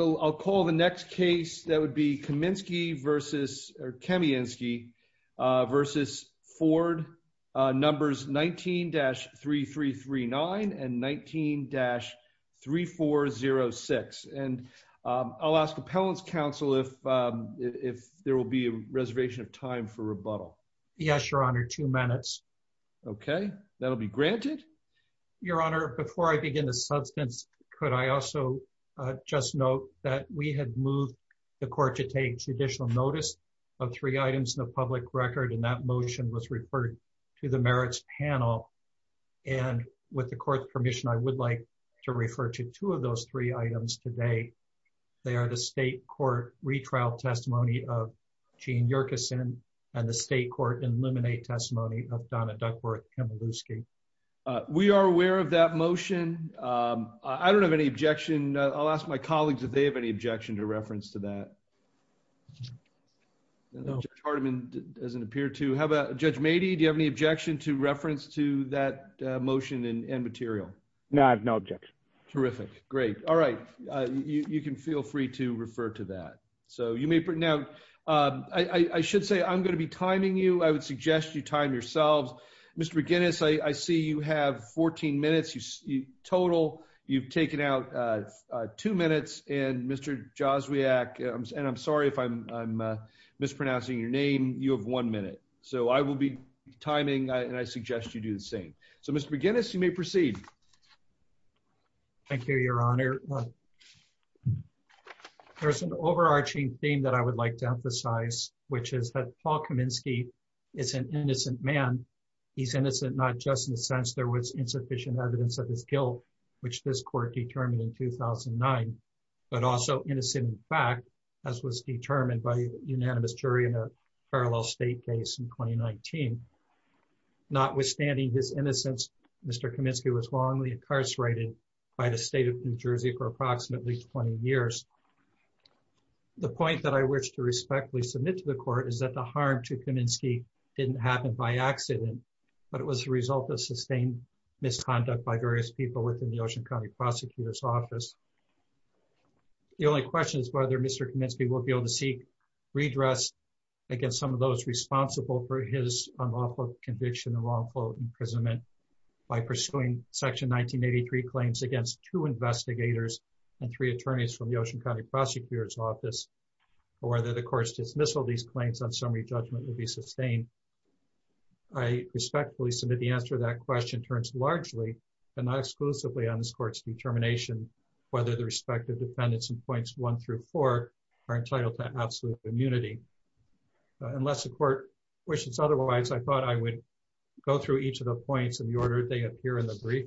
I'll call the next case that would be Kamienski v. Ford numbers 19-3339 and 19-3406 and I'll ask Appellant's Counsel if there will be a reservation of time for rebuttal. Yes, Your Honor, two minutes. Okay, that'll be granted. Your Honor, before I begin the substance, could I also just note that we had moved the court to take judicial notice of three items in the public record and that motion was referred to the Merits Panel and with the court's permission, I would like to refer to two of those three items today. They are the State Court Retrial Testimony of Jean Yerkeson and the We are aware of that motion. I don't have any objection. I'll ask my colleagues if they have any objection to reference to that. Judge Hardiman doesn't appear to have a... Judge Mady, do you have any objection to reference to that motion and material? No, I have no objection. Terrific. Great. All right. You can feel free to refer to that. So you may... Now, I should say I'm going to be timing you. I would suggest you time yourselves. Mr. McGinnis, I see you have 14 minutes total. You've taken out two minutes. And Mr. Joswiak, and I'm sorry if I'm mispronouncing your name, you have one minute. So I will be timing and I suggest you do the same. So Mr. McGinnis, you may proceed. Thank you, Your Honor. There's an overarching theme that I would like to emphasize, which is that Paul Kaminsky is an innocent man. He's innocent, not just in the sense there was insufficient evidence of his guilt, which this court determined in 2009, but also innocent in fact, as was determined by unanimous jury in a parallel state case in 2019. Notwithstanding his innocence, Mr. Kaminsky was wrongly incarcerated by the state of New Jersey for approximately 20 years. The point that I wish to respectfully submit to the court is that the harm to Kaminsky didn't happen by accident, but it was the result of sustained misconduct by various people within the Ocean County Prosecutor's Office. The only question is whether Mr. Kaminsky will be able to seek redress against some of those responsible for his unlawful conviction and lawful imprisonment by pursuing Section 1983 claims against two investigators and three attorneys from the Ocean County Prosecutor's Office, or whether the court's dismissal of these claims on summary judgment will be sustained. I respectfully submit the answer to that question turns largely and not exclusively on this court's determination, whether the respective defendants in points one through four are entitled to absolute immunity. Unless the court wishes otherwise, I thought I would go through each of the points in the order they appear in the brief.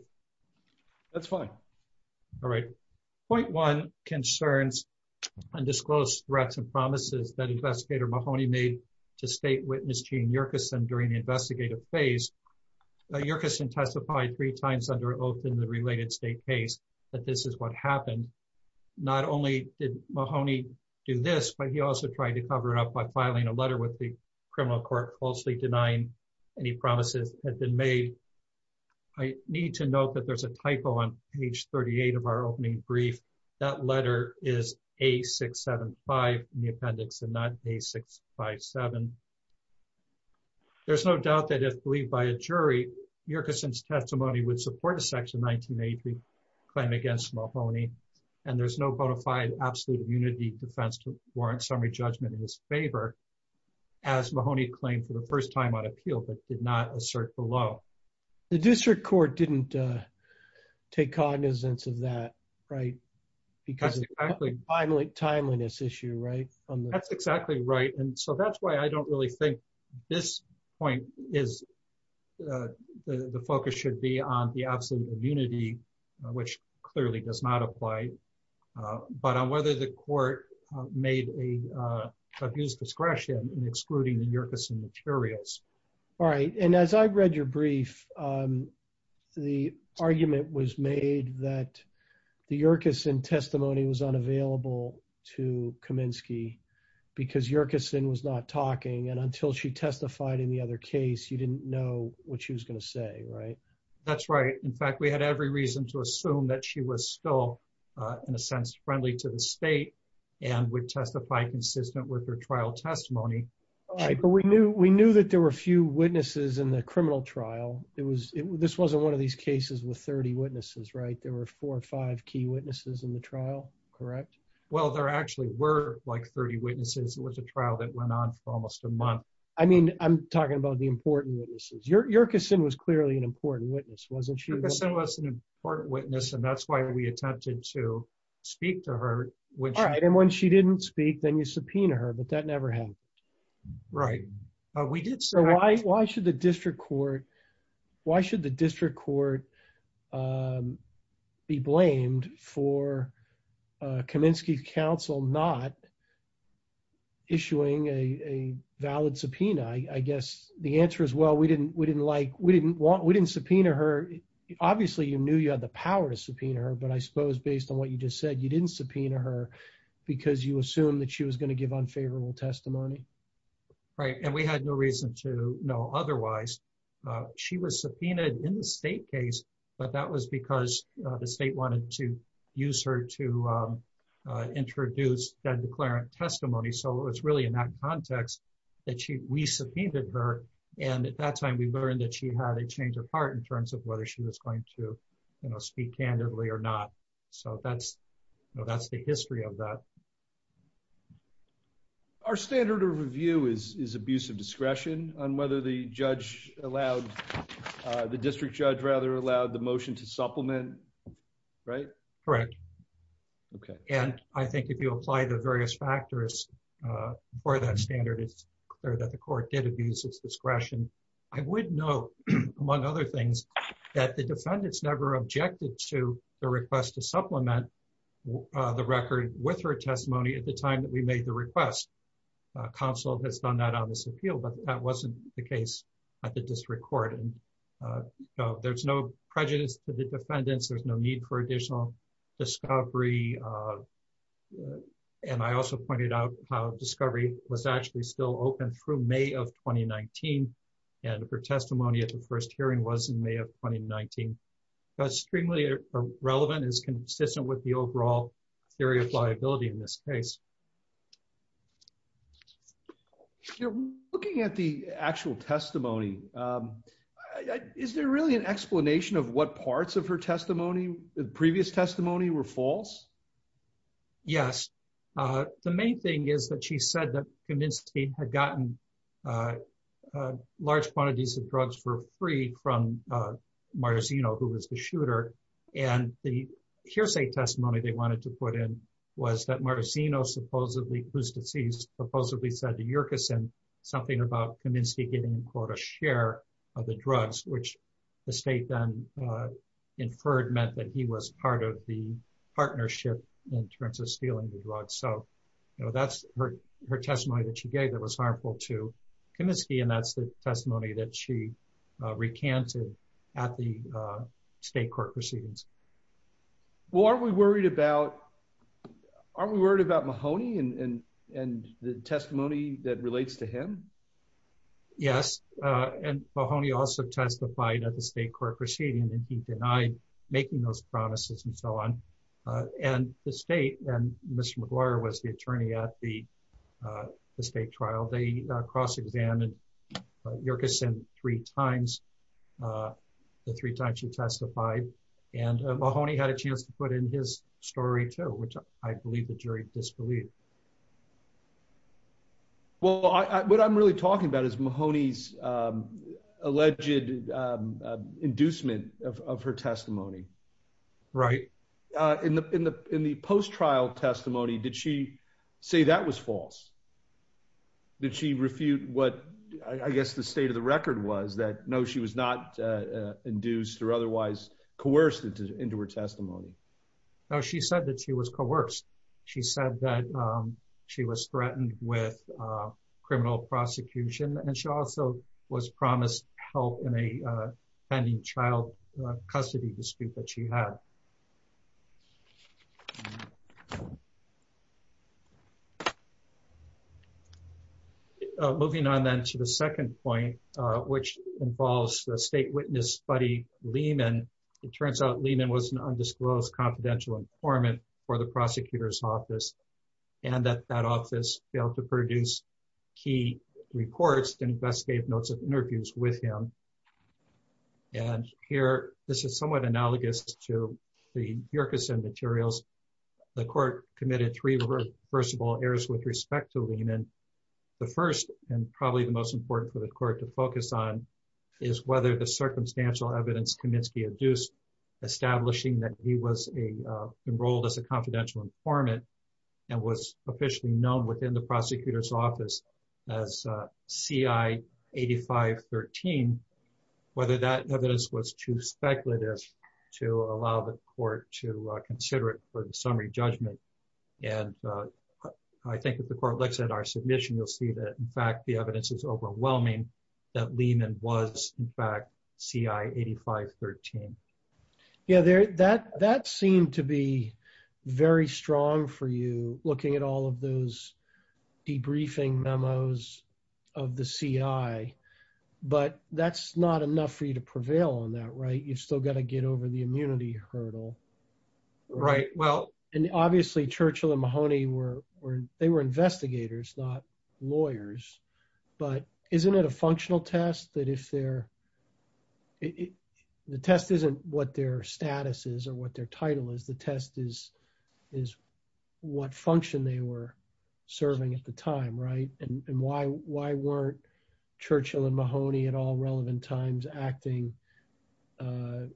That's fine. All right. Point one concerns undisclosed threats and promises that investigator Mahoney made to state witness Gene Yerkeson during the investigative phase. Yerkeson testified three times under oath in the related state case that this is what happened. Not only did Mahoney do this, but he also tried to cover it up by filing a letter with the had been made. I need to note that there's a typo on page 38 of our opening brief. That letter is A675 in the appendix and not A657. There's no doubt that if believed by a jury, Yerkeson's testimony would support a Section 1983 claim against Mahoney, and there's no bona fide absolute immunity defense to warrant summary judgment in his favor, as Mahoney claimed for first time on appeal, but did not assert below. The district court didn't take cognizance of that, right? Because it's a timeliness issue, right? That's exactly right. That's why I don't really think this point is the focus should be on the absolute immunity, which clearly does not apply, but on whether the court made an abuse of discretion in excluding the Yerkeson materials. All right. And as I've read your brief, the argument was made that the Yerkeson testimony was unavailable to Kaminsky because Yerkeson was not talking, and until she testified in the other case, you didn't know what she was going to say, right? That's right. In fact, we had every reason to assume that she was still, in a sense, friendly to the state and would testify consistent with her trial testimony. All right. But we knew that there were a few witnesses in the criminal trial. This wasn't one of these cases with 30 witnesses, right? There were four or five key witnesses in the trial, correct? Well, there actually were like 30 witnesses. It was a trial that went on for almost a month. I mean, I'm talking about the important witnesses. Yerkeson was clearly an important witness, wasn't she? Yerkeson was an important witness, and that's why we attempted to speak to her. All right. And when she didn't speak, then you subpoena her, but that never happened. Right. Why should the district court be blamed for Kaminsky's counsel not issuing a valid subpoena? I guess the answer is, well, we didn't subpoena her. Obviously, you knew you had the power to subpoena her, but I suppose based on what you just said, you didn't subpoena her because you assumed that she was going to give unfavorable testimony. Right. And we had no reason to know otherwise. She was subpoenaed in the state case, but that was because the state wanted to use her to introduce that declarant testimony. So it was really in that context that we subpoenaed her. And at that time, we learned that she had a change of heart in terms of whether she was going to speak candidly or not. So that's the history of that. Our standard of review is abuse of discretion on whether the district judge allowed the motion to supplement, right? Correct. And I think if you apply the various factors for that standard, it's clear that the court did abuse its discretion. I would note, among other things, that the defendants never objected to the request to supplement the record with her testimony at the time that we made the request. Counsel has done that on this appeal, but that wasn't the district court. There's no prejudice to the defendants. There's no need for additional discovery. And I also pointed out how discovery was actually still open through May of 2019. And her testimony at the first hearing was in May of 2019. That's extremely relevant and is consistent with the overall theory of liability in this case. You're looking at the actual testimony. Is there really an explanation of what parts of her testimony, the previous testimony, were false? Yes. The main thing is that she said that Comiskey had gotten large quantities of drugs for free from Marzino, who was the shooter. And the hearsay testimony they wanted to put in was that Marzino, whose deceased, supposedly said to Yerkeson something about Comiskey getting a share of the drugs, which the state then inferred meant that he was part of the partnership in terms of stealing the drugs. So that's her testimony that she gave that was harmful to Comiskey. And that's the testimony that she recanted at the state court proceedings. Well, aren't we worried about Mahoney and the testimony that relates to him? Yes. And Mahoney also testified at the state court proceeding, and he denied making those promises and so on. And the state, and Mr. McGuire was the attorney at the state trial, they cross-examined Yerkeson three times, the three times she testified. And Mahoney had a chance to put in his story too, which I believe the jury disbelieved. Well, what I'm really talking about is Mahoney's alleged inducement of her testimony. Right. In the post-trial testimony, did she say that was false? Did she refute what I guess the state of the record was that no, she was not induced or otherwise coerced into her testimony? No, she said that she was coerced. She said that she was threatened with criminal prosecution, and she also was promised help in a pending child custody dispute that she had. Okay. Moving on then to the second point, which involves the state witness buddy Lehman. It turns out Lehman was an undisclosed confidential informant for the prosecutor's office, and that that office failed to produce key reports and investigative notes of interviews with him. And here, this is somewhat analogous to the Yerkeson materials. The court committed three reversible errors with respect to Lehman. The first and probably the most important for the court to focus on is whether the circumstantial evidence Kaminsky induced, establishing that he was enrolled as a confidential informant and was officially known within the prosecutor's office as CI 8513, whether that evidence was too speculative to allow the court to consider it for the summary judgment. And I think if the court looks at our submission, you'll see that, in fact, the evidence is overwhelming that Lehman was in fact CI 8513. Yeah, that seemed to be very strong for you, looking at all of those debriefing memos of the CI. But that's not enough for you to prevail on that, right? You've still got to get over the immunity hurdle. Right. Well, and obviously, Churchill and Mahoney were, they were investigators, not lawyers. But isn't it a functional test that if they're, it, the test isn't what their status is, or what their title is, the test is, is what function they were serving at the time, right? And why, why weren't Churchill and Mahoney at all relevant times acting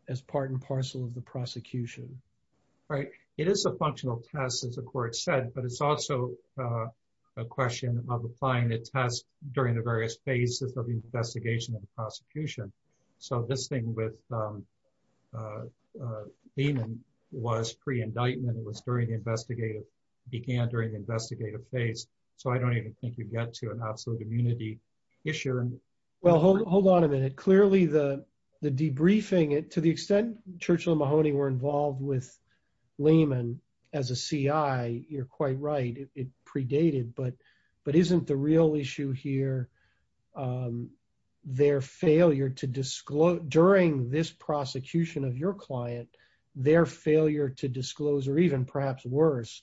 as part and parcel of the prosecution? Right. It is a functional test, as the court said, but it's also a question of applying the test during the various phases of the investigation of the prosecution. So this thing with Lehman was pre-indictment, it was during the investigative, began during the investigative phase. So I don't even think you get to an absolute immunity issue. Well, hold on a minute. Clearly, the debriefing, to the extent Churchill and Mahoney were involved with Lehman as a CI, you're quite right, it predated, but isn't the real issue here their failure to disclose, during this prosecution of your client, their failure to disclose, or even perhaps worse,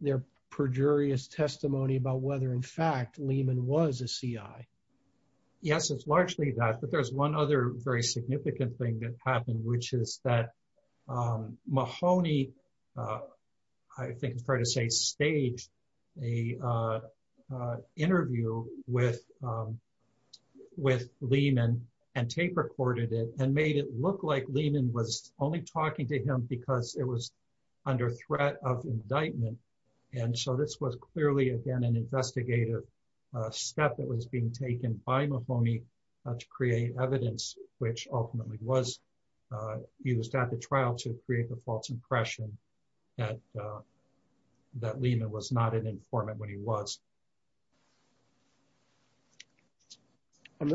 their perjurious testimony about whether, in fact, Lehman was a CI? Yes, it's largely that, but there's one other very significant thing that happened, which is that a interview with Lehman and tape recorded it and made it look like Lehman was only talking to him because it was under threat of indictment. And so this was clearly, again, an investigative step that was being taken by Mahoney to create evidence, which ultimately was used at the trial to create the false impression that Lehman was not an informant when he was.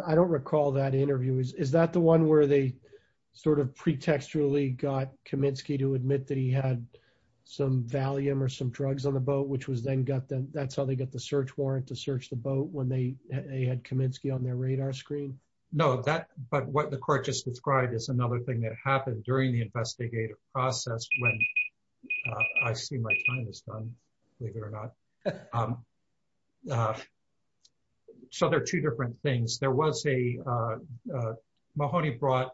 I don't recall that interview. Is that the one where they sort of pretextually got Kaminsky to admit that he had some Valium or some drugs on the boat, which was then got them, that's how they got the search warrant to search the boat when they had Kaminsky on their radar screen? No, that, but what the court just described is another thing that happened during the investigative process when, I see my time is done, believe it or not. So there are two different things. There was a, Mahoney brought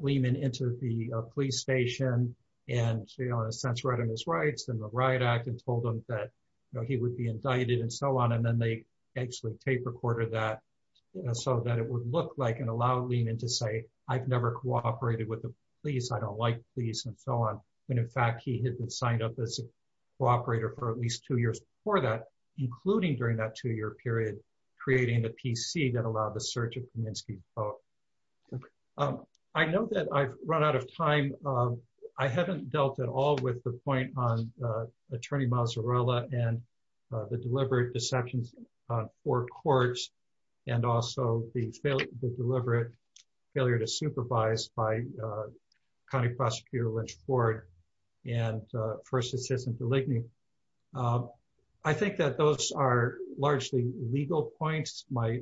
Lehman into the police station and, you know, in a sense, read on his rights and the riot act and told him that, you know, he would be indicted and so on. And then they actually tape recorded that so that it would look like and allow Lehman to say, I've never cooperated with the police. I don't like police and so on. When in fact he had been signed up as a cooperator for at least two years before that, including during that two year period, creating the PC that allowed the search of Kaminsky's boat. I know that I've run out of time. I haven't dealt at all with the point on the deliberate deceptions on four courts and also the deliberate failure to supervise by County Prosecutor Lynch Ford and First Assistant to Ligney. I think that those are largely legal points. My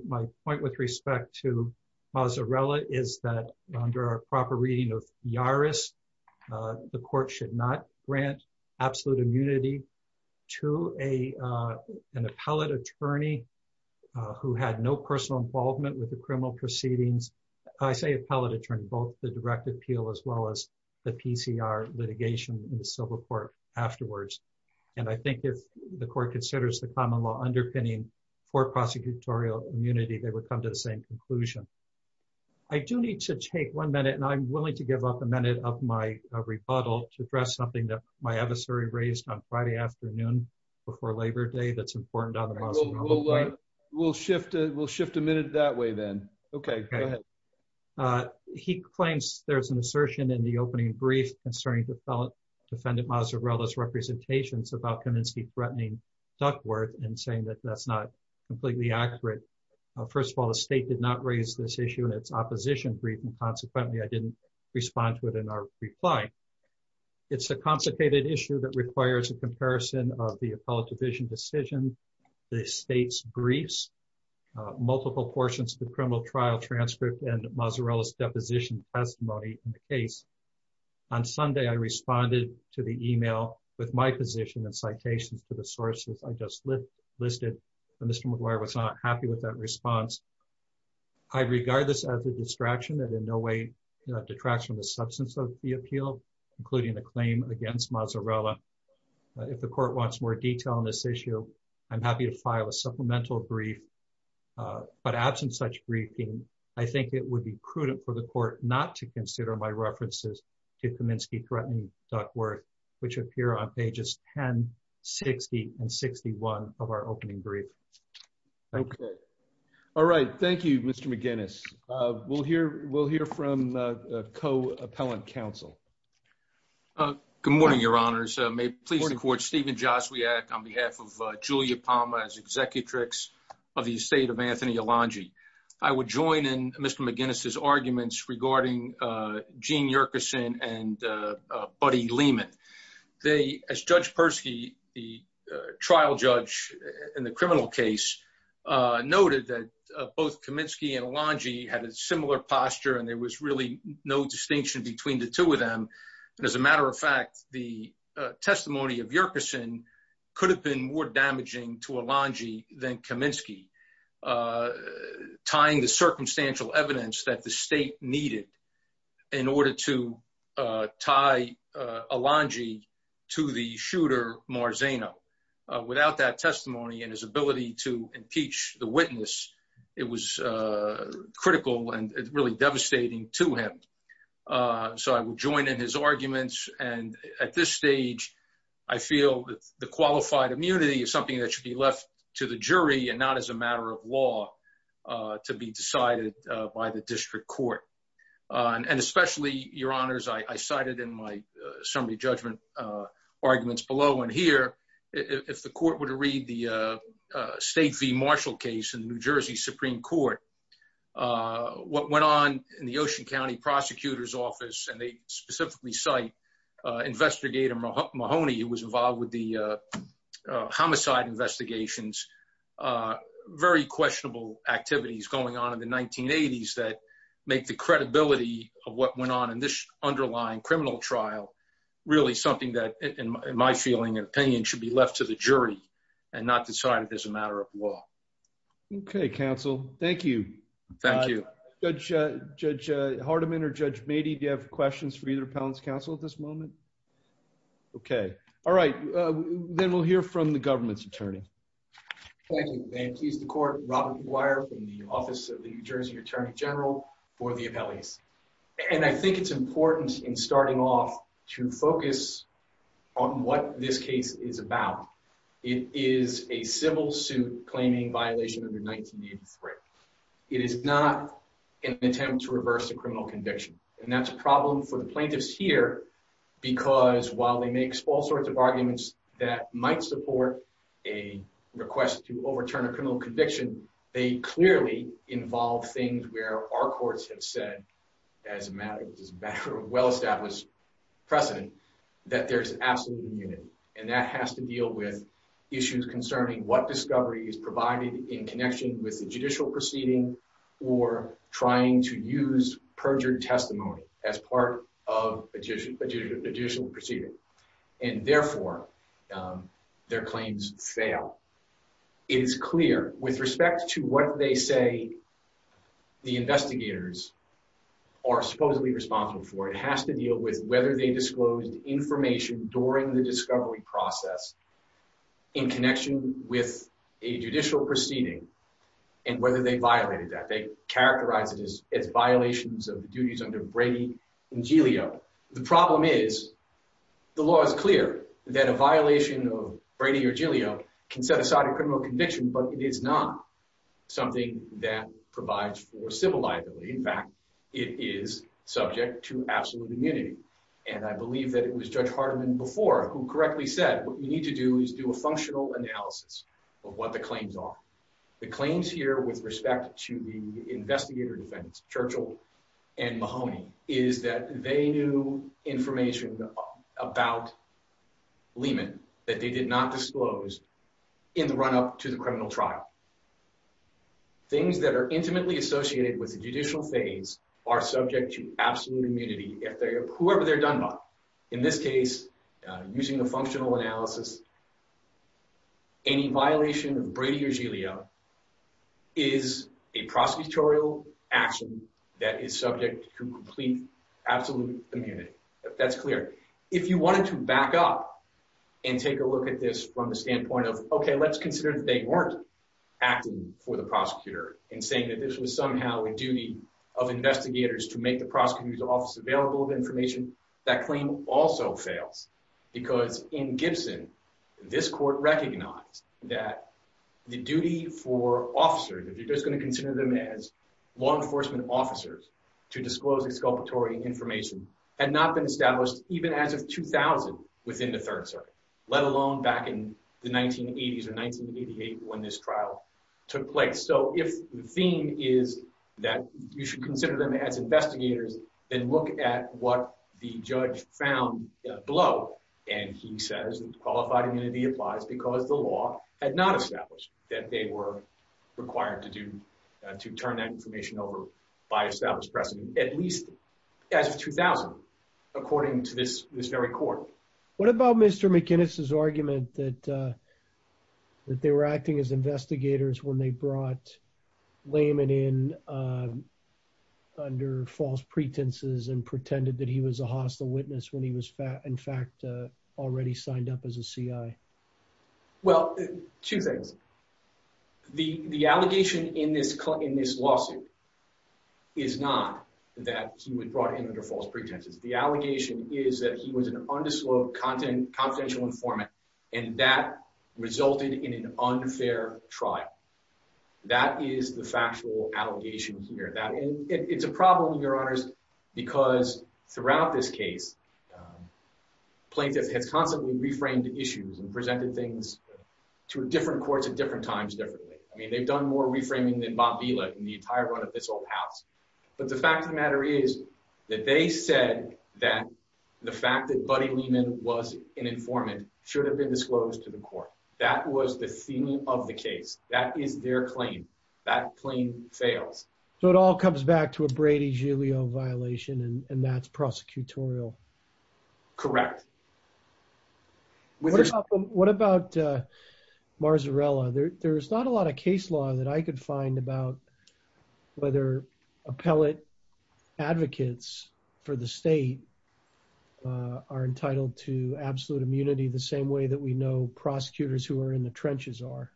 point with respect to Mozzarella is that under a proper reading of Yaris, the court should not grant absolute immunity to an appellate attorney who had no personal involvement with the criminal proceedings. I say appellate attorney, both the direct appeal as well as the PCR litigation in the civil court afterwards. And I think if the court considers the common law underpinning for prosecutorial immunity, they would come to the same conclusion. I do need to take one minute and I'm willing to give up a minute of my rebuttal to address something that my adversary raised on Friday afternoon before Labor Day that's important. We'll shift. We'll shift a minute that way then. Okay. He claims there's an assertion in the opening brief concerning defendant mozzarella's representations about Kaminsky threatening Duckworth and saying that that's not completely accurate. First of all, the state did not raise this issue in its opposition briefing. Consequently, I didn't respond to it in our reply. It's a consecrated issue that requires a comparison of the appellate division decision, the state's briefs, multiple portions of the criminal trial transcript and Mozzarella's deposition testimony in the case. On Sunday, I responded to the email with my position and citations to the sources I just listed. And Mr. McGuire was not happy with that response. I regard this as a distraction that in no way detracts from the substance of the appeal, including the claim against Mozzarella. If the court wants more detail on this issue, I'm happy to file a supplemental brief. But absent such briefing, I think it would be on pages 10, 60, and 61 of our opening brief. Okay. All right. Thank you, Mr. McGuinness. We'll hear from co-appellant counsel. Good morning, your honors. May it please the court, Stephen Joswiak on behalf of Julia Palmer as executrix of the estate of Anthony Alonji. I would join in Mr. McGuinness's arguments regarding Gene Yerkeson and Buddy Lehman. They, as Judge Persky, the trial judge in the criminal case, noted that both Kaminsky and Alonji had a similar posture, and there was really no distinction between the two of them. And as a matter of fact, the testimony of Yerkeson could have been more damaging to Alonji than Kaminsky, tying the circumstantial evidence that the state needed in order to tie Alonji to the shooter Marzano. Without that testimony and his ability to impeach the witness, it was critical and really devastating to him. So I will join in his arguments. And at this stage, I feel that the qualified immunity is something that should be left to the jury and not as a matter of law to be decided by the district court. And especially, your honors, I cited in my summary judgment arguments below and here, if the court were to read the State v. Marshall case in New Jersey Supreme Court, what went on in the Ocean County Prosecutor's who was involved with the homicide investigations, very questionable activities going on in the 1980s that make the credibility of what went on in this underlying criminal trial, really something that, in my feeling and opinion, should be left to the jury and not decided as a matter of law. Okay, counsel. Thank you. Thank you. Judge Hardiman or Judge Mady, do you have questions for either appellant's counsel at this moment? Okay. All right. Then we'll hear from the government's attorney. Thank you. May it please the court, Robert McGuire from the Office of the New Jersey Attorney General for the appellees. And I think it's important in starting off to focus on what this case is about. It is a civil suit claiming violation under 1983. It is not an attempt to reverse a criminal conviction. And that's a problem for the plaintiffs here because while they make all sorts of arguments that might support a request to overturn a criminal conviction, they clearly involve things where our courts have said, as a matter of well established precedent, that there's an absolute immunity. And that has to deal with issues concerning what discovery is provided in connection with the judicial proceeding or trying to use perjured testimony as part of a judicial proceeding. And therefore, their claims fail. It is clear with respect to what they say the investigators are supposedly responsible for, it has to deal with whether they disclosed information during the discovery process in connection with a judicial proceeding and whether they violated that. They characterize it as violations of the duties under Brady and Giglio. The problem is the law is clear that a violation of Brady or Giglio can set aside a criminal conviction, but it is not something that provides for civil liability. In fact, it is subject to absolute immunity. And I believe that it was Judge Hardiman before who correctly said, what you need to do is do a functional analysis of what the claims are. The claims here with respect to the investigator defense, Churchill and Mahoney, is that they knew information about Lehman that they did not disclose in the run up to the criminal trial. Things that are intimately associated with the judicial phase are subject to absolute immunity, whoever they're done by. In this case, using a functional analysis, any violation of Brady or Giglio is a prosecutorial action that is subject to complete absolute immunity. That's clear. If you wanted to back up and take a look at this from the standpoint of, okay, let's consider that they weren't acting for the investigators to make the prosecutor's office available with information, that claim also fails because in Gibson, this court recognized that the duty for officers, if you're just going to consider them as law enforcement officers, to disclose exculpatory information had not been established even as of 2000 within the Third Circuit, let alone back in the 1980s or 1988 when this trial took place. So if the theme is that you should consider them as investigators, then look at what the judge found below. And he says qualified immunity applies because the law had not established that they were required to turn that information over by established precedent at least as of 2000, according to this very court. What about Mr. McInnis's argument that that they were acting as investigators when they brought Lehman in under false pretenses and pretended that he was a hostile witness when he was in fact already signed up as a CI? Well, two things. The allegation in this lawsuit is not that he was brought in under false and that resulted in an unfair trial. That is the factual allegation here. It's a problem, Your Honors, because throughout this case, plaintiffs have constantly reframed issues and presented things to different courts at different times differently. I mean, they've done more reframing than Bob Vila in the entire run of this whole house. But the fact of the matter is that they said that the fact that Buddy Lehman was an informant should have been disclosed to the court. That was the theme of the case. That is their claim. That claim fails. So it all comes back to a Brady-Giulio violation and that's prosecutorial. Correct. What about Marzarella? There's not a lot of case law that I could find about whether appellate advocates for the state are entitled to absolute immunity the same way that we know prosecutors who are in the trenches are.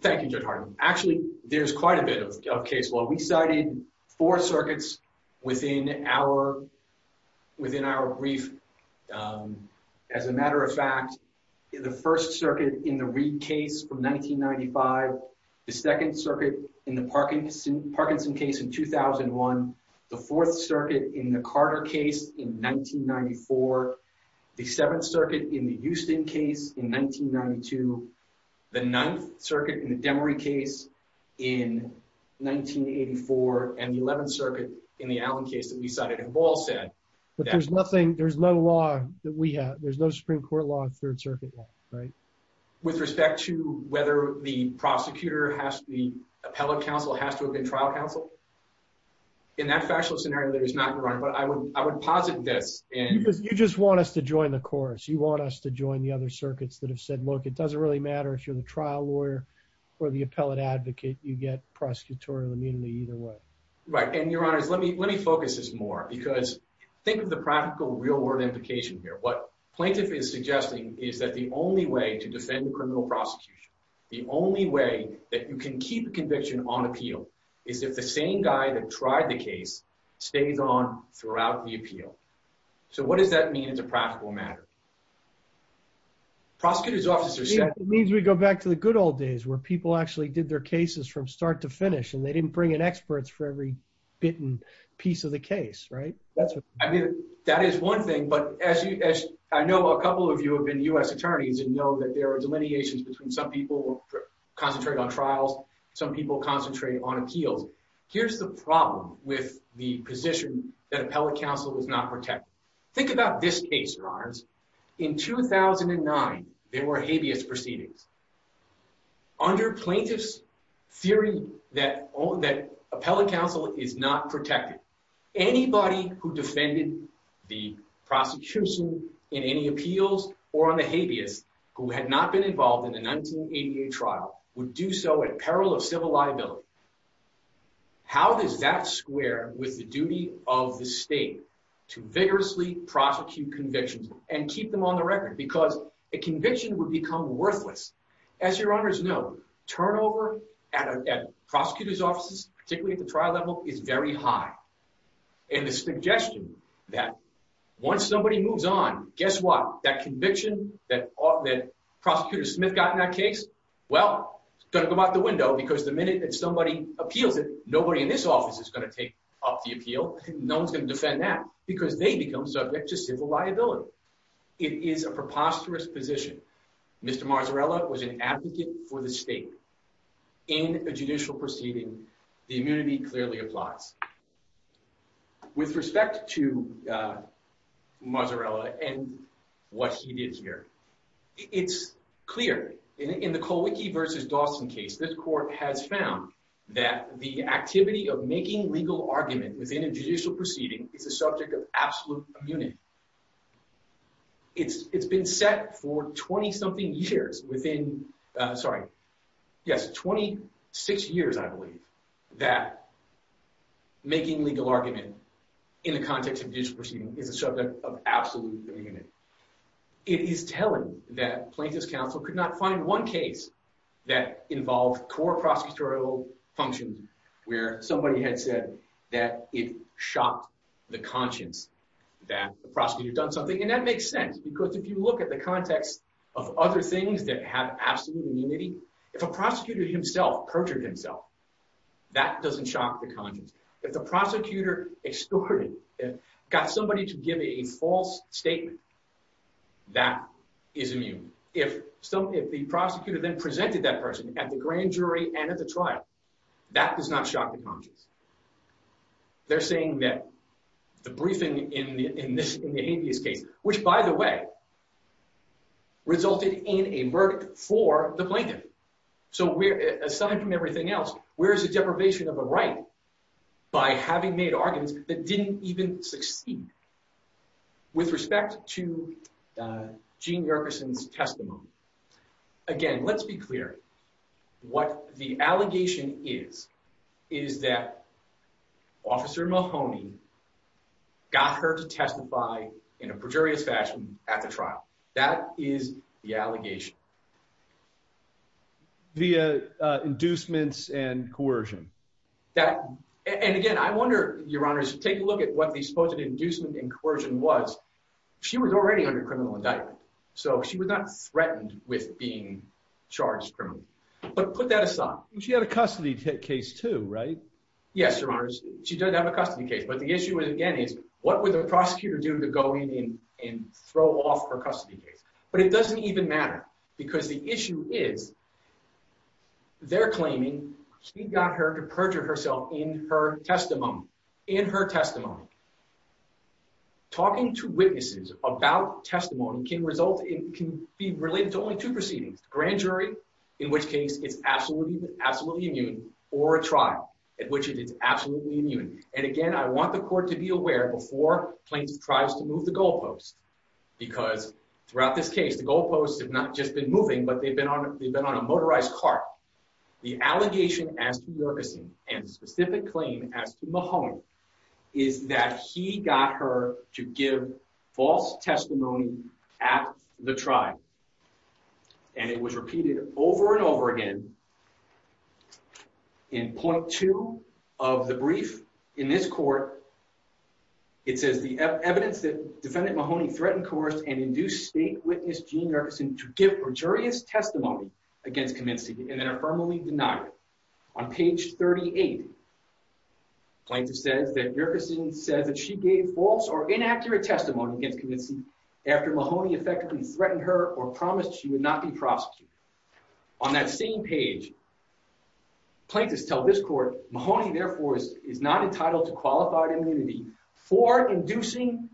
Thank you, Judge Harden. Actually, there's quite a bit of case law. We cited four circuits within our brief. As a matter of fact, the first circuit in the Reid case from 1995, the second circuit in the Parkinson case in 2001, the fourth circuit in the Carter case in 1994, the seventh circuit in the Houston case in 1992, the ninth circuit in the Demery case in 1984, and the 11th circuit in the Allen case that we cited. But there's no law that we have. There's no Supreme Court law and third circuit law, right? With respect to whether the prosecutor, the appellate counsel has to have been trial counsel? In that factual scenario, that is not correct. But I would posit this. You just want us to join the chorus. You want us to join the other circuits that have said, look, it doesn't really matter if you're the trial lawyer or the appellate advocate. You get prosecutorial immunity either way. Right. And your honors, let me, let me focus this more because think of the practical real world implication here. What plaintiff is suggesting is that the only way to defend the criminal prosecution, the only way that you can keep a conviction on appeal is if the same guy that tried the case stays on throughout the appeal. So what does that mean as a practical matter? Prosecutor's officer said, it means we go back to the good old days where people actually did their cases from start to finish and they didn't bring in experts for every bit and piece of the case, right? I mean, that is one thing, but as you, as I know, a couple of you have been U.S. attorneys and know that there are delineations between some people concentrating on trials. Some people concentrate on appeals. Here's the problem with the position that appellate counsel was not protected. Think about this case, your honors. In 2009, there were habeas proceedings. Under plaintiff's theory that appellate counsel is not protected, anybody who defended the prosecution in any appeals or on the habeas who had not been involved in the 1988 trial would do so at peril of civil liability. How does that square with the duty of the state to vigorously prosecute convictions and keep them on the record? Because a conviction would become worthless as your honors know, turnover at prosecutor's offices, particularly at the trial level, is very high. And the suggestion that once somebody moves on, guess what? That conviction that prosecutor Smith got in that case, well, it's going to come out the window because the minute that somebody appeals it, nobody in this office is going to take up the appeal. No one's going to defend that because they become subject to civil liability. It is a preposterous position. Mr. Marzarella was an advocate for the state in a judicial proceeding. The immunity clearly applies. With respect to Marzarella and what he did here, it's clear in the Colwicky versus Dawson case, this court has found that the activity of making legal argument within a judicial proceeding is a subject of absolute immunity. It's been set for 20-something years within, sorry, yes, 26 years, I believe, that making legal argument in the context of judicial proceeding is a subject of absolute immunity. It is telling that plaintiff's counsel could not find one case that involved core prosecutorial functions where somebody had said that it shocked the conscience that the prosecutor had done something. And that makes sense because if you look at the context of other things that have absolute immunity, if a prosecutor himself perjured himself, that doesn't shock the conscience. If the prosecutor extorted, got somebody to give a false statement, that is immune. If the prosecutor then presented that person at the grand jury and at the trial, that does not shock the conscience. They're saying that the briefing in the habeas case, which by the way, resulted in a verdict for the plaintiff. So we're, aside from everything else, where is the deprivation of a right by having made arguments that didn't even succeed? With respect to Jean Yerkeson's testimony, again, let's be clear. What the allegation is, is that Officer Mahoney got her to testify in a perjurious fashion at the trial. That is the allegation. Via inducements and coercion. That, and again, I wonder, Your Honors, take a look at what the supposed inducement and coercion was. She was already under criminal indictment. So she was not threatened with being charged criminally. But put that aside. She had a custody case too, right? Yes, Your Honors. She does have a custody case. But the issue again is, what would the prosecutor do to go in and throw off her custody case? But it doesn't even matter. Because the allegation, talking to witnesses about testimony can result in, can be related to only two proceedings. Grand jury, in which case it's absolutely, absolutely immune. Or a trial, at which it is absolutely immune. And again, I want the court to be aware before plaintiff tries to move the goalposts. Because throughout this case, the goalposts have not just been moving, but they've been on, they've been on a motorized cart. The allegation as to Yerkeson, and the he got her to give false testimony at the trial. And it was repeated over and over again. In point two of the brief in this court, it says the evidence that defendant Mahoney threatened, coerced, and induced state witness Jean Yerkeson to give gratuitous testimony against Kaminsky, and then affirmably denied it. On page 38, plaintiff says that Yerkeson says that she gave false or inaccurate testimony against Kaminsky after Mahoney effectively threatened her or promised she would not be prosecuted. On that same page, plaintiffs tell this court, Mahoney therefore is not entitled to qualified immunity for inducing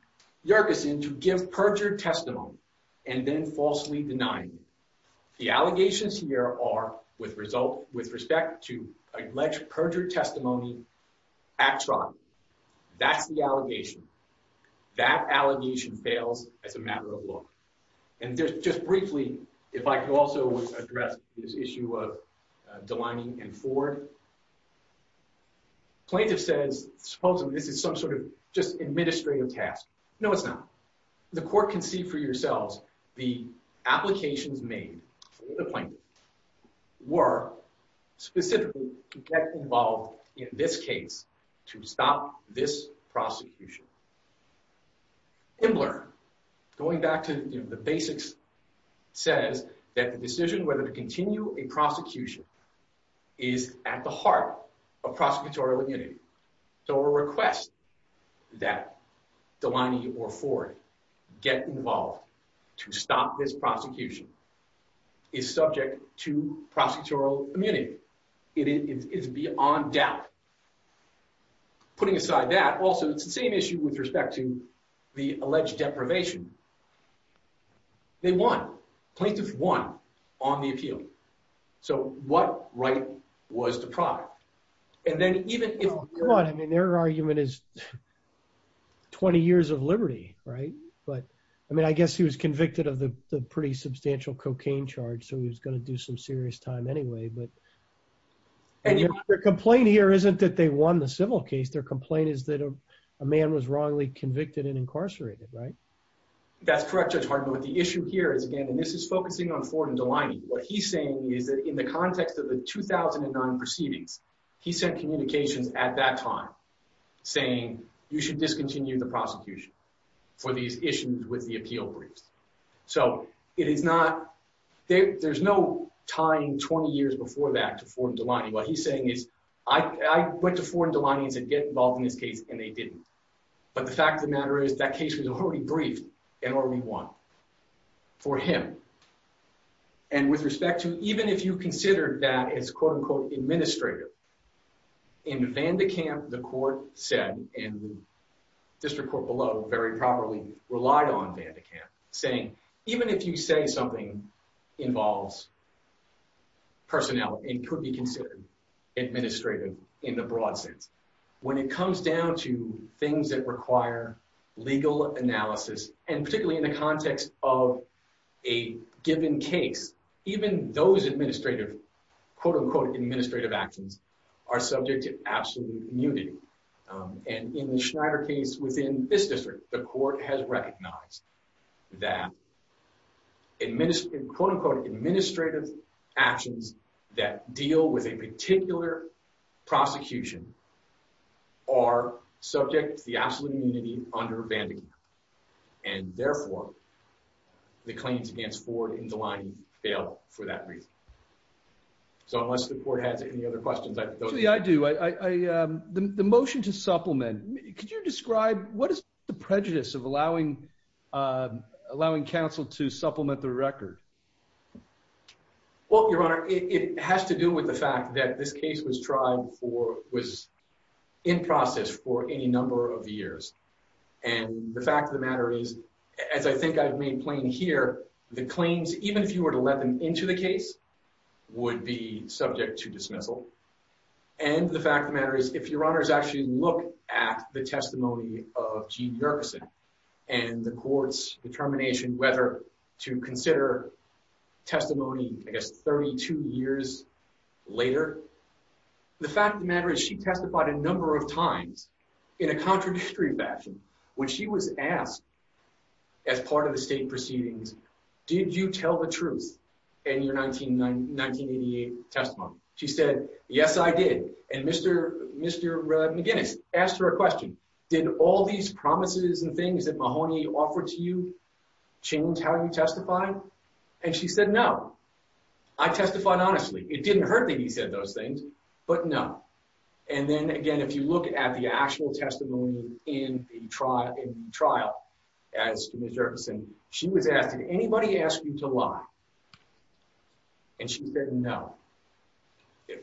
Yerkeson to give perjured testimony, and then falsely denied it. The plaintiff says that Yerkeson's testimony at trial, that's the allegation. That allegation fails as a matter of law. And there's just briefly, if I could also address this issue of Delany and Ford. Plaintiff says, supposedly this is some sort of just administrative task. No, it's not. The court can see for yourselves, the applications made to the plaintiff were specifically to get involved in this case, to stop this prosecution. Imler, going back to the basics, says that the decision whether to continue a prosecution is at the heart of prosecutorial immunity. So a request that Delany or Ford get involved to stop this prosecution is subject to prosecutorial immunity. It is beyond doubt. Putting aside that, also it's the same issue with respect to the alleged deprivation. They won. Plaintiff won on the appeal. So what right was deprived? And then even if- I mean, their argument is 20 years of liberty, right? But I mean, I guess he was convicted of the pretty substantial cocaine charge, so he was going to do some serious time anyway. But their complaint here isn't that they won the civil case. Their complaint is that a man was wrongly convicted and incarcerated, right? That's correct, Judge Hartman. But the issue here is, again, and this is focusing on Ford and Delany. What he's saying is that in the context of the 2009 proceedings, he sent communications at that time saying, you should discontinue the prosecution for these issues with the appeal briefs. So it is not- there's no tying 20 years before that to Ford and Delany. What he's saying is, I went to Ford and Delany and said, get involved in this case, and they didn't. But the fact of the matter is, that case was already briefed and already won for him. And with respect to, even if you consider that as, quote unquote, administrative, in Vandekamp, the court said, and the district court below very properly relied on Vandekamp, saying, even if you say something involves personnel and could be considered administrative in the broad sense, when it comes down to things that require legal analysis, and particularly in the context of a given case, even those administrative, quote unquote, administrative actions are subject to absolute immunity. And in the Schneider case within this district, the court has recognized that quote unquote, administrative actions that deal with a particular prosecution are subject to the absolute immunity under Vandekamp. And therefore, the claims against Ford and Delany fail for that reason. So unless the court has any other questions, I- I do. The motion to supplement, could you describe what is the prejudice of allowing counsel to supplement the record? Well, your honor, it has to do with the fact that this was tried for- was in process for any number of years. And the fact of the matter is, as I think I've made plain here, the claims, even if you were to let them into the case, would be subject to dismissal. And the fact of the matter is, if your honors actually look at the testimony of Gene Yerkeson and the court's determination whether to consider testimony, I guess, 32 years later, the fact of the matter is she testified a number of times in a contradictory fashion when she was asked as part of the state proceedings, did you tell the truth in your 19- 1988 testimony? She said, yes, I did. And Mr. McGinnis asked her a question, did all these promises and things that Mahoney offered to you change how you testified? And she said, no, I testified honestly. It didn't hurt that he said those things, but no. And then again, if you look at the actual testimony in the trial, as to Ms. Yerkeson, she was asked, did anybody ask you to lie? And she said, no.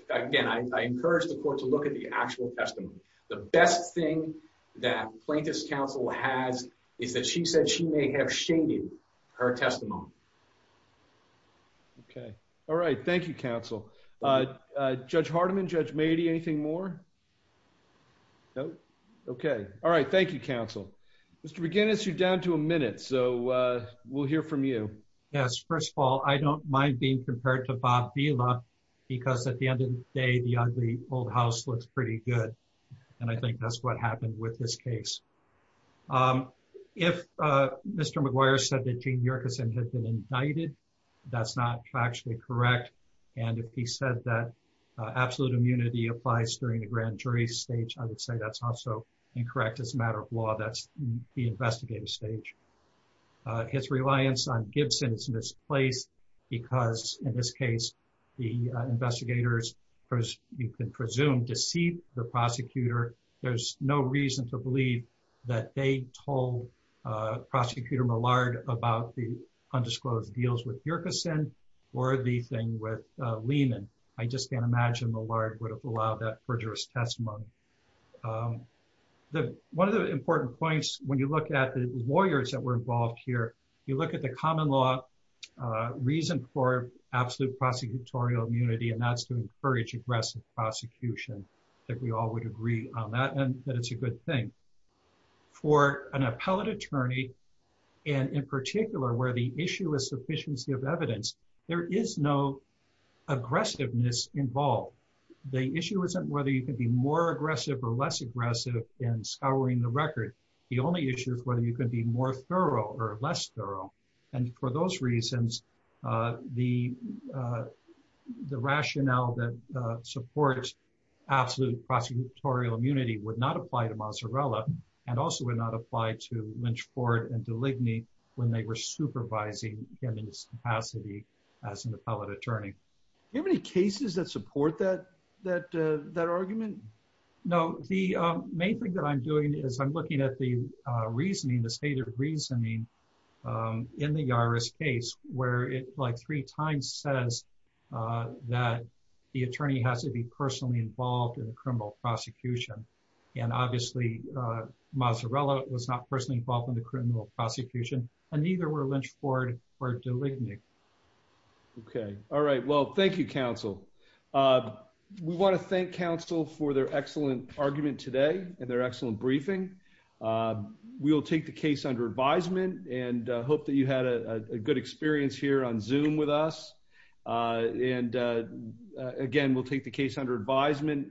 Again, I encourage the court to look at the actual testimony. The best thing that plaintiff's counsel has is that she said she may have shaded her testimony. Okay. All right. Thank you, counsel. Judge Hardiman, Judge Mady, anything more? No. Okay. All right. Thank you, counsel. Mr. McGinnis, you're down to a minute. So we'll hear from you. Yes. First of all, I don't mind being compared to Bob Vila because at the end of the day, the ugly old house looks pretty good. And I think that's what happened with this case. If Mr. McGuire said that Gene Yerkeson had been indicted, that's not factually correct. And if he said that absolute immunity applies during the grand jury stage, I would say that's also incorrect as a matter of law, that's the investigative stage. His reliance on Gibson is misplaced because in this case, the investigators, you can presume, deceit the prosecutor. There's no reason to believe that they told Prosecutor Millard about the undisclosed deals with Yerkeson or the thing with Lehman. I just can't imagine Millard would have allowed that perjurous testimony. One of the important points, when you look at the lawyers that were involved here, you look at the common law reason for absolute prosecutorial immunity, and that's to encourage aggressive prosecution. I think we all would agree on that, and that it's a good thing. For an appellate attorney, and in particular, where the issue is sufficiency of evidence, there is no aggressiveness involved. The issue isn't whether you can be more aggressive or less aggressive in scouring the record. The only issue is whether you can be more thorough or less thorough. For those reasons, the rationale that supports absolute prosecutorial immunity would not apply to Mazzarella, and also would not apply to Lynch, Ford, and DeLigny when they were supervising him in his capacity as an appellate attorney. Do you have any cases that support that argument? No. The main thing that I'm doing is I'm looking at the reasoning, the stated reasoning, in the Yaris case, where it like three times says that the attorney has to be personally involved in the criminal prosecution. Obviously, Mazzarella was not personally involved in the criminal prosecution, and neither were Lynch, Ford, or DeLigny. Okay. All right. Well, thank you, counsel. We want to thank counsel for their excellent argument today, and their under advisement, and hope that you had a good experience here on Zoom with us. And again, we'll take the case under advisement.